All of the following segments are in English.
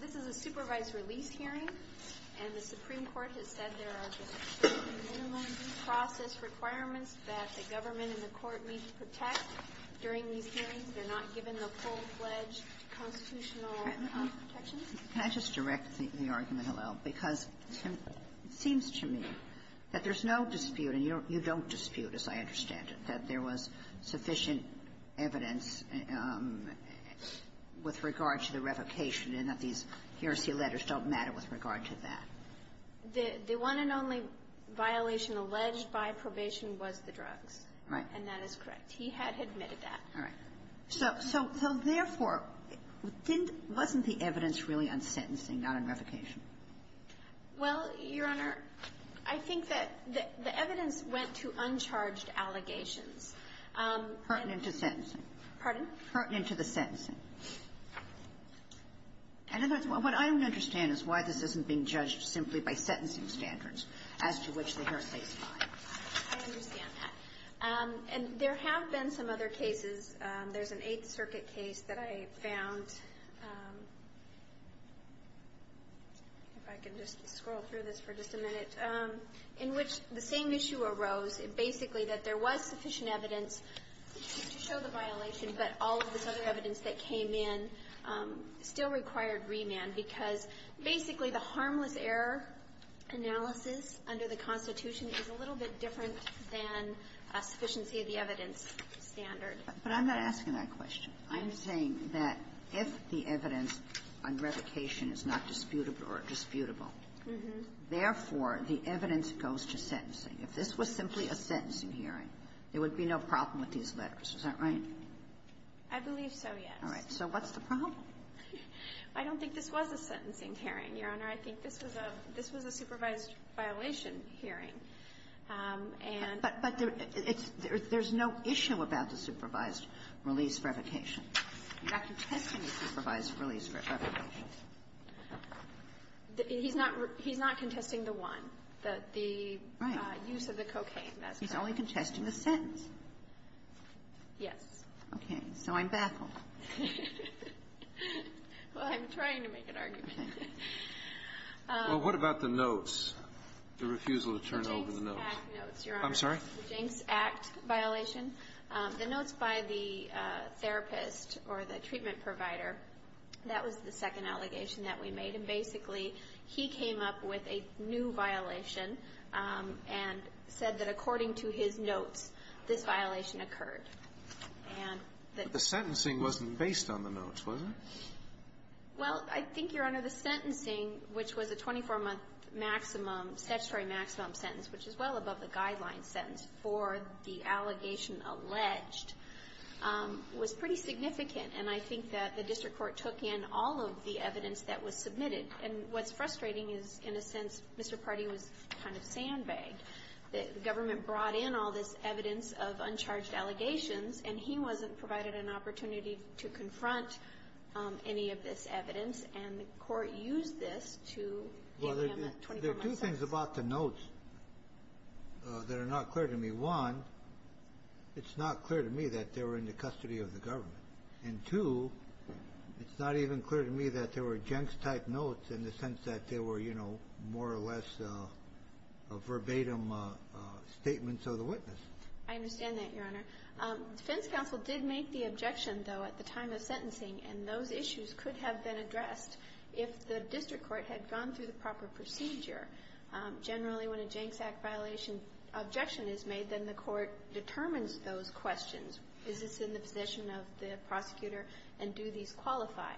This is a supervised release hearing and the Supreme Court has said there are minimum due process requirements that the government and the court need to protect during these hearings. They're not given the full-fledged constitutional protections. Kagan Can I just direct the argument a little? Because it seems to me that there's no dispute, and you don't dispute, as I understand it, that there was sufficient evidence with regard to the revocation and that these heresy letters don't matter with regard to that. Pardee The one and only violation alleged by probation was the drugs. Kagan Right. Pardee And that is correct. He had admitted that. Kagan All right. So therefore, wasn't the evidence really on sentencing, not on revocation? Pardee Well, Your Honor, I think that the evidence went to uncharged allegations. Kagan Pertinent to sentencing. Pardee Pardon? Kagan Pertinent to the sentencing. And in other words, what I don't understand is why this isn't being judged simply by sentencing standards as to which the heresy is fine. Pardee I understand that. And there have been some other cases. There's an Eighth Circuit case that I found, if I can just scroll through this for just a minute, in which the same issue arose, basically that there was sufficient evidence to show the violation, but all of this other evidence that came in still required remand. Because basically, the harmless error analysis under the Constitution is a little bit different than a sufficiency of the evidence standard. Kagan But I'm not asking that question. I'm saying that if the evidence on revocation is not disputable or disputable, therefore, the evidence goes to sentencing. If this was simply a sentencing hearing, there would be no problem with these letters. Is that right? Pardee I believe so, yes. Kagan All right. So what's the problem? Pardee I don't think this was a sentencing hearing, Your Honor. I think this was a supervised violation hearing. And the reason I'm asking is that there's no issue about the supervised release for revocation. You're not contesting the supervised release for revocation. He's not contesting the one, the use of the cocaine. He's only contesting the sentence. Pardee Yes. Kagan Okay. So I'm baffled. Pardee Well, I'm trying to make an argument. Kagan Well, what about the notes, the refusal to turn over the notes? Pardee The Jenks Act notes, Your Honor. Kagan I'm sorry? Pardee The Jenks Act violation. The notes by the therapist or the treatment provider, that was the second allegation that we made. And basically, he came up with a new violation and said that according to his notes, this violation occurred. And that the Jenks But the sentencing wasn't based on the notes, was it? Well, I think, Your Honor, the sentencing, which was a 24-month maximum, statutory maximum sentence, which is well above the guideline sentence for the allegation alleged, was pretty significant. And I think that the district court took in all of the evidence that was submitted. And what's frustrating is, in a sense, Mr. Pardee was kind of sandbagged. The government brought in all this evidence of uncharged allegations, and he wasn't provided an opportunity to confront any of this evidence. And the court used this to give him a 24-month sentence. Well, there are two things about the notes that are not clear to me. One, it's not clear to me that they were in the custody of the government. And two, it's not even clear to me that there were Jenks-type notes in the sense that they were, you know, more or less verbatim statements of the witness. I understand that, Your Honor. The defense counsel did make the objection, though, at the time of sentencing, and those issues could have been addressed if the district court had gone through the proper procedure. Generally, when a Jenks Act violation objection is made, then the court determines those questions. Is this in the position of the prosecutor, and do these qualify?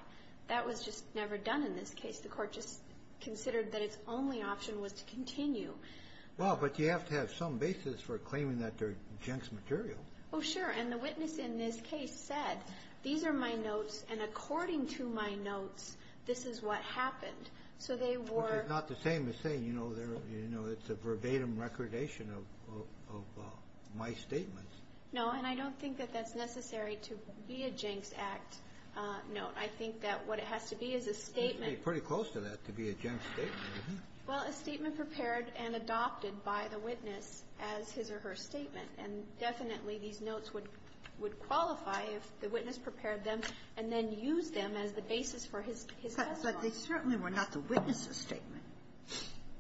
That was just never done in this case. The court just considered that its only option was to continue. Well, but you have to have some basis for claiming that they're Jenks material. Oh, sure. And the witness in this case said, these are my notes, and according to my notes, this is what happened. So they were Not the same as saying, you know, it's a verbatim recordation of my statements. No, and I don't think that that's necessary to be a Jenks Act note. I think that what it has to be is a statement. It's pretty close to that, to be a Jenks statement. Well, a statement prepared and adopted by the witness as his or her statement. And definitely, these notes would qualify if the witness prepared them and then used them as the basis for his testimony. But they certainly were not the witness's statement.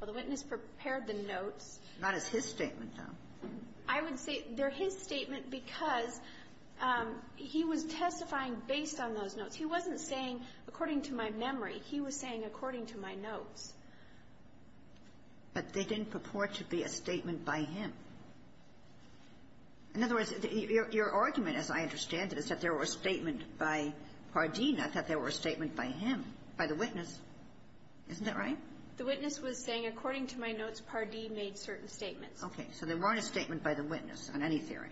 Well, the witness prepared the notes. Not as his statement, though. I would say they're his statement because he was testifying based on those notes. He wasn't saying, according to my memory. He was saying, according to my notes. But they didn't purport to be a statement by him. In other words, your argument, as I understand it, is that there were statements by Pardeen, not that there were statements by him, by the witness. Isn't that right? The witness was saying, according to my notes, Pardeen made certain statements. Okay. So they weren't a statement by the witness, on any theory.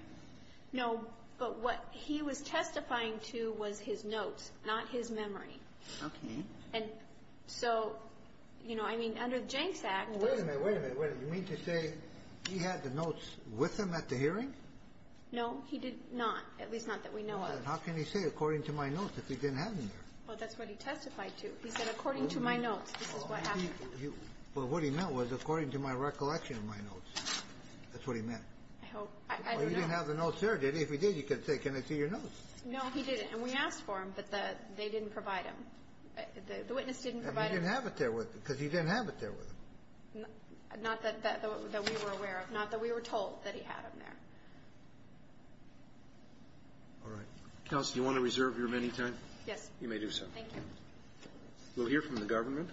No, but what he was testifying to was his notes, not his memory. Okay. And so, you know, I mean, under the Jenks Act we're going to wait a minute. Wait a minute. You mean to say he had the notes with him at the hearing? No, he did not, at least not that we know of. Then how can he say, according to my notes, if he didn't have them there? Well, that's what he testified to. He said, according to my notes, this is what happened. Well, what he meant was, according to my recollection of my notes. That's what he meant. I hope. I don't know. Well, he didn't have the notes there, did he? If he did, you could say, can I see your notes? No, he didn't. And we asked for them, but they didn't provide them. The witness didn't provide them. And he didn't have it there with him, because he didn't have it there with him. Not that we were aware of. Not that we were told that he had them there. All right. Counsel, do you want to reserve your remaining time? Yes. You may do so. Thank you. We'll hear from the government.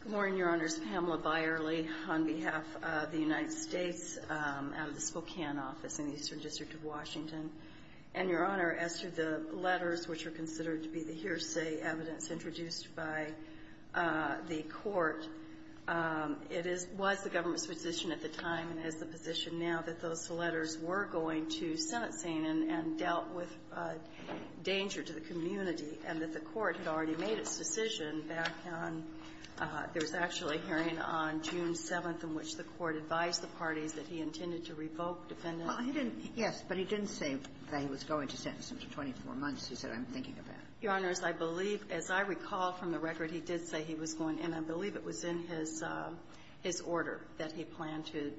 Good morning, Your Honors. Pamela Byerly on behalf of the United States out of the Spokane office in the Eastern District of Washington. And, Your Honor, as to the letters which are considered to be the hearsay evidence introduced by the Court, it is the government's position at the time and is the position now that those letters were going to Senate scene and dealt with danger to the community, and that the Court had already made its decision back on there was actually a hearing on June 7th in which the Court advised the parties that he intended to revoke defendant's Yes. But he didn't say that he was going to sentence him to 24 months. He said, I'm thinking of that. Your Honors, I believe, as I recall from the record, he did say he was going. And I believe it was in his order that he planned to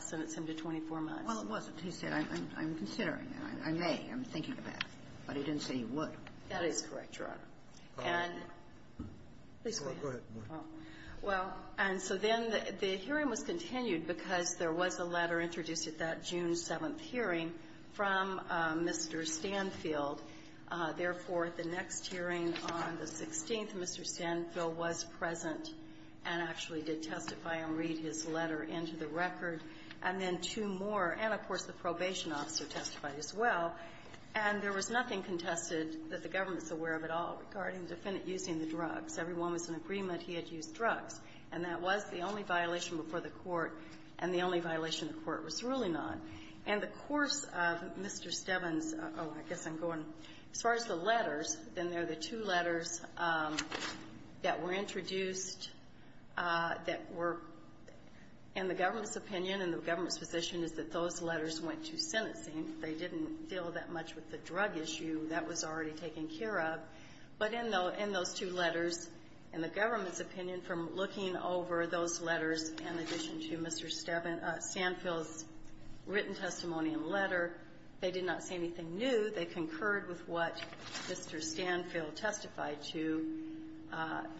sentence him to 24 months. Well, it wasn't. He said, I'm considering it. I may. I'm thinking of that. But he didn't say he would. That is correct, Your Honor. And the court goes on. Well, and so then the hearing was continued because there was a letter introduced at that June 7th hearing from Mr. Stanfield. Therefore, at the next hearing on the 16th, Mr. Stanfield was present and actually did testify and read his letter into the record. And then two more, and of course, the probation officer testified as well. And there was nothing contested that the government's aware of at all regarding the defendant using the drugs. Everyone was in agreement he had used drugs. And that was the only violation before the Court, and the only violation the Court was ruling on. And the course of Mr. Stebbins' — oh, I guess I'm going — as far as the letters, then there are the two letters that were introduced that were in the government's opinion and the government's position is that those letters went to sentencing. They didn't deal that much with the drug issue. That was already taken care of. But in those two letters, in the government's opinion, from looking over those letters in addition to Mr. Stanfield's written testimony and letter, they did not see anything new. They concurred with what Mr. Stanfield testified to.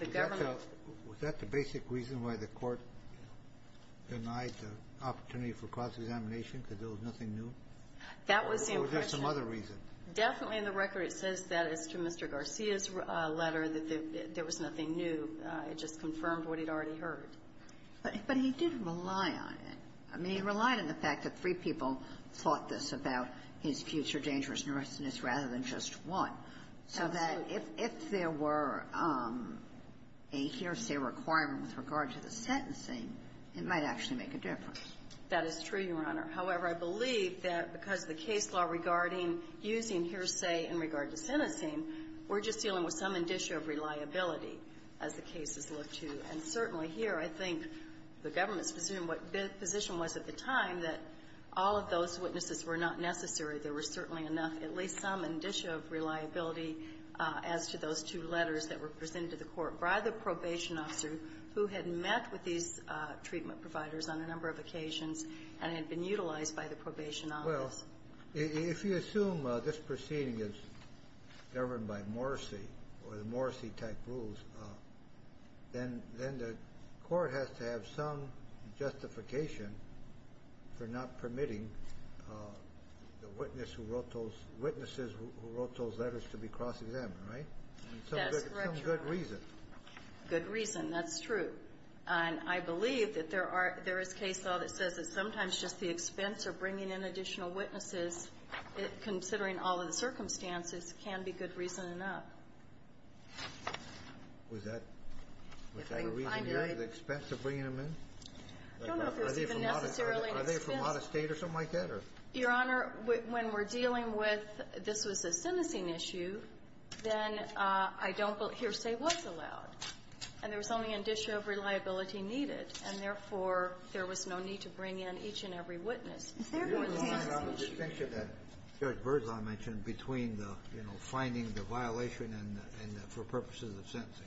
The government — Was that the basic reason why the Court denied the opportunity for cross-examination because there was nothing new? That was the impression. Or was there some other reason? Definitely, in the record, it says that as to Mr. Garcia's letter, that there was nothing new. It just confirmed what he'd already heard. But he did rely on it. I mean, he relied on the fact that three people thought this about his future dangerous nervousness rather than just one. Absolutely. So that if there were a hearsay requirement with regard to the sentencing, it might actually make a difference. That is true, Your Honor. However, I believe that because the case law regarding using hearsay in regard to sentencing, we're just dealing with some indicia of reliability as the cases look to. And certainly here, I think the government's position was at the time that all of those witnesses were not necessary. There was certainly enough, at least some indicia of reliability as to those two letters that were presented to the Court by the probation officer who had met with these treatment providers on a number of occasions and had been utilized by the probation office. Well, if you assume this proceeding is governed by Morrisey or the Morrisey-type rules, then the Court has to have some justification for not permitting the witness who wrote those witnesses who wrote those letters to be cross-examined, right? That's correct, Your Honor. And some good reason. Good reason. That's true. And I believe that there are – there is case law that says that sometimes just the expense of bringing in additional witnesses, considering all of the circumstances, can be good reason enough. Was that a reason you're at the expense of bringing them in? I don't know if there's even necessarily an expense. Are they from out of State or something like that? Your Honor, when we're dealing with this was a sentencing issue, then I don't believe hearsay was allowed. And there was only an issue of reliability needed, and, therefore, there was no need to bring in each and every witness. Is there a distinction that Judge Verzal mentioned between the, you know, finding the violation and the – for purposes of sentencing?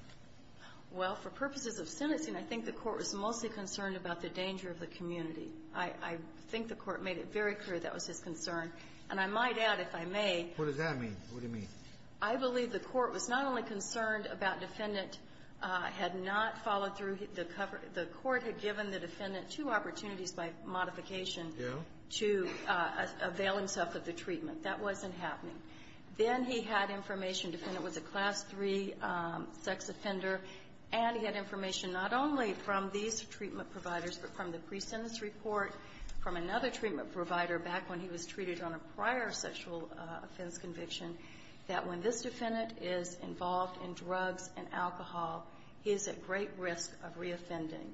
Well, for purposes of sentencing, I think the Court was mostly concerned about the danger of the community. I think the Court made it very clear that was his concern. And I might add, if I may – What does that mean? What do you mean? I believe the Court was not only concerned about defendant had not followed through the cover – the Court had given the defendant two opportunities by modification to avail himself of the treatment. That wasn't happening. Then he had information, the defendant was a Class III sex offender, and he had information not only from these treatment providers, but from the pre-sentence report, from another treatment provider back when he was treated on a prior sexual offense conviction, that when this defendant is involved in drugs and alcohol, he is at great risk of reoffending.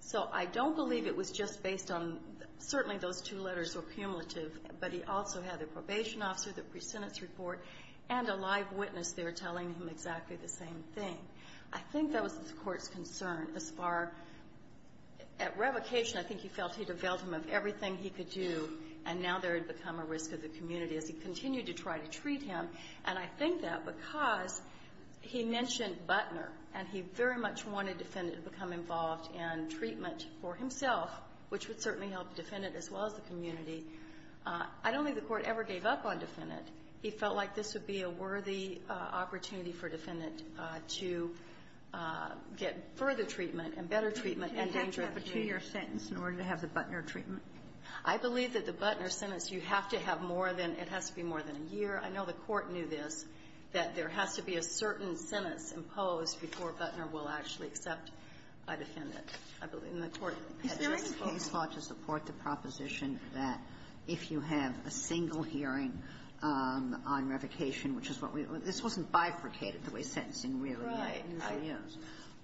So I don't believe it was just based on – certainly, those two letters were cumulative, but he also had a probation officer, the pre-sentence report, and a live witness there telling him exactly the same thing. I think that was the Court's concern as far – at revocation, I think he felt he'd availed him of everything he could do, and now there had become a risk of the community. As he continued to try to treat him, and I think that because he mentioned Buttner, and he very much wanted the defendant to become involved in treatment for himself, which would certainly help the defendant as well as the community, I don't think the Court ever gave up on defendant. He felt like this would be a worthy opportunity for defendant to get further treatment, and better treatment, and danger of reoffending. Sotomayor, in order to have the Buttner treatment? I believe that the Buttner sentence, you have to have more than – it has to be more than a year. I know the Court knew this, that there has to be a certain sentence imposed before Buttner will actually accept a defendant. I believe the Court had a case law to support the proposition that if you have a single hearing on revocation, which is what we – this wasn't bifurcated the way sentencing really is.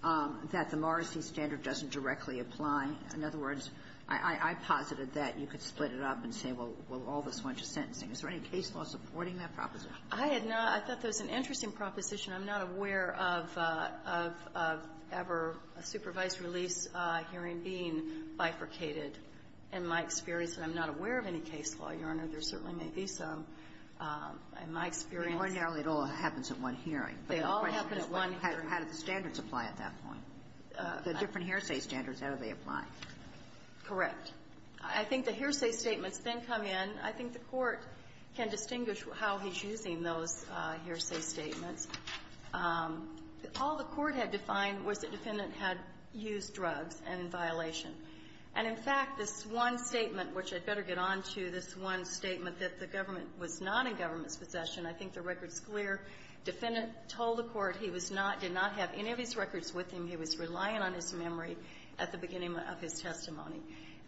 Right. That the Morrissey standard doesn't directly apply. In other words, I posited that you could split it up and say, well, all this bunch of sentencing. Is there any case law supporting that proposition? I had not. I thought that was an interesting proposition. I'm not aware of ever a supervised release hearing being bifurcated. In my experience, and I'm not aware of any case law, Your Honor. There certainly may be some. In my experience – Ordinarily, it all happens at one hearing. They all happen at one hearing. How do the standards apply at that point? The different hearsay standards, how do they apply? Correct. I think the hearsay statements then come in. I think the Court can distinguish how he's using those hearsay statements. All the Court had defined was the defendant had used drugs in violation. And, in fact, this one statement, which I'd better get on to, this one statement that the government was not in government's possession, I think the record's clear. Defendant told the Court he was not – did not have any of his records with him. He was relying on his memory at the beginning of his testimony.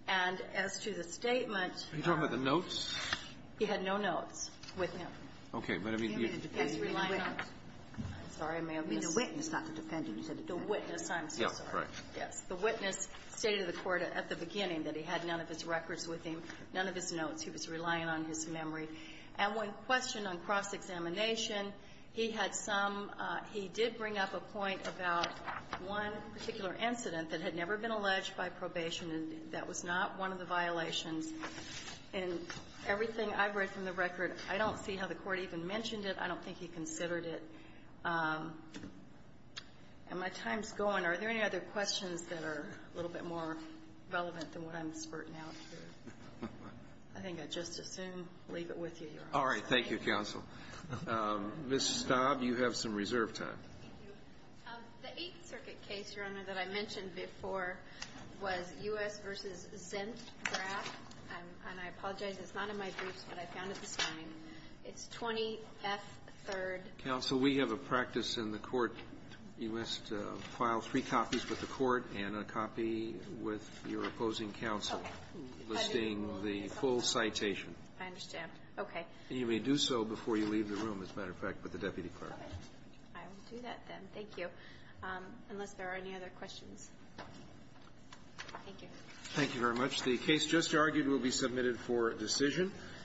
And as to the statement – Are you talking about the notes? He had no notes with him. Okay. But, I mean, you – He was relying on – I'm sorry. I may have missed – You mean the witness, not the defendant. You said the witness. I'm so sorry. Yes. The witness stated to the Court at the beginning that he had none of his records with him, none of his notes. He was relying on his memory. And one question on cross-examination, he had some – he did bring up a point about one particular incident that had never been alleged by probation, and that was not one of the violations. And everything I've read from the record, I don't see how the Court even mentioned it. I don't think he considered it. And my time's going. Are there any other questions that are a little bit more relevant than what I'm spurting out here? I think I'd just assume, leave it with you, Your Honor. All right. Thank you, counsel. Ms. Stobb, you have some reserve time. The Eighth Circuit case, Your Honor, that I mentioned before was U.S. v. Zint Graf. And I apologize, it's not in my briefs, but I found it this morning. It's 20F3rd. Counsel, we have a practice in the Court. You must file three copies with the Court and a copy with your opposing counsel. Okay. Listing the full citation. I understand. Okay. And you may do so before you leave the room, as a matter of fact, with the deputy clerk. Okay. I will do that, then. Thank you. Unless there are any other questions. Thank you. Thank you very much. The case just argued will be submitted for decision.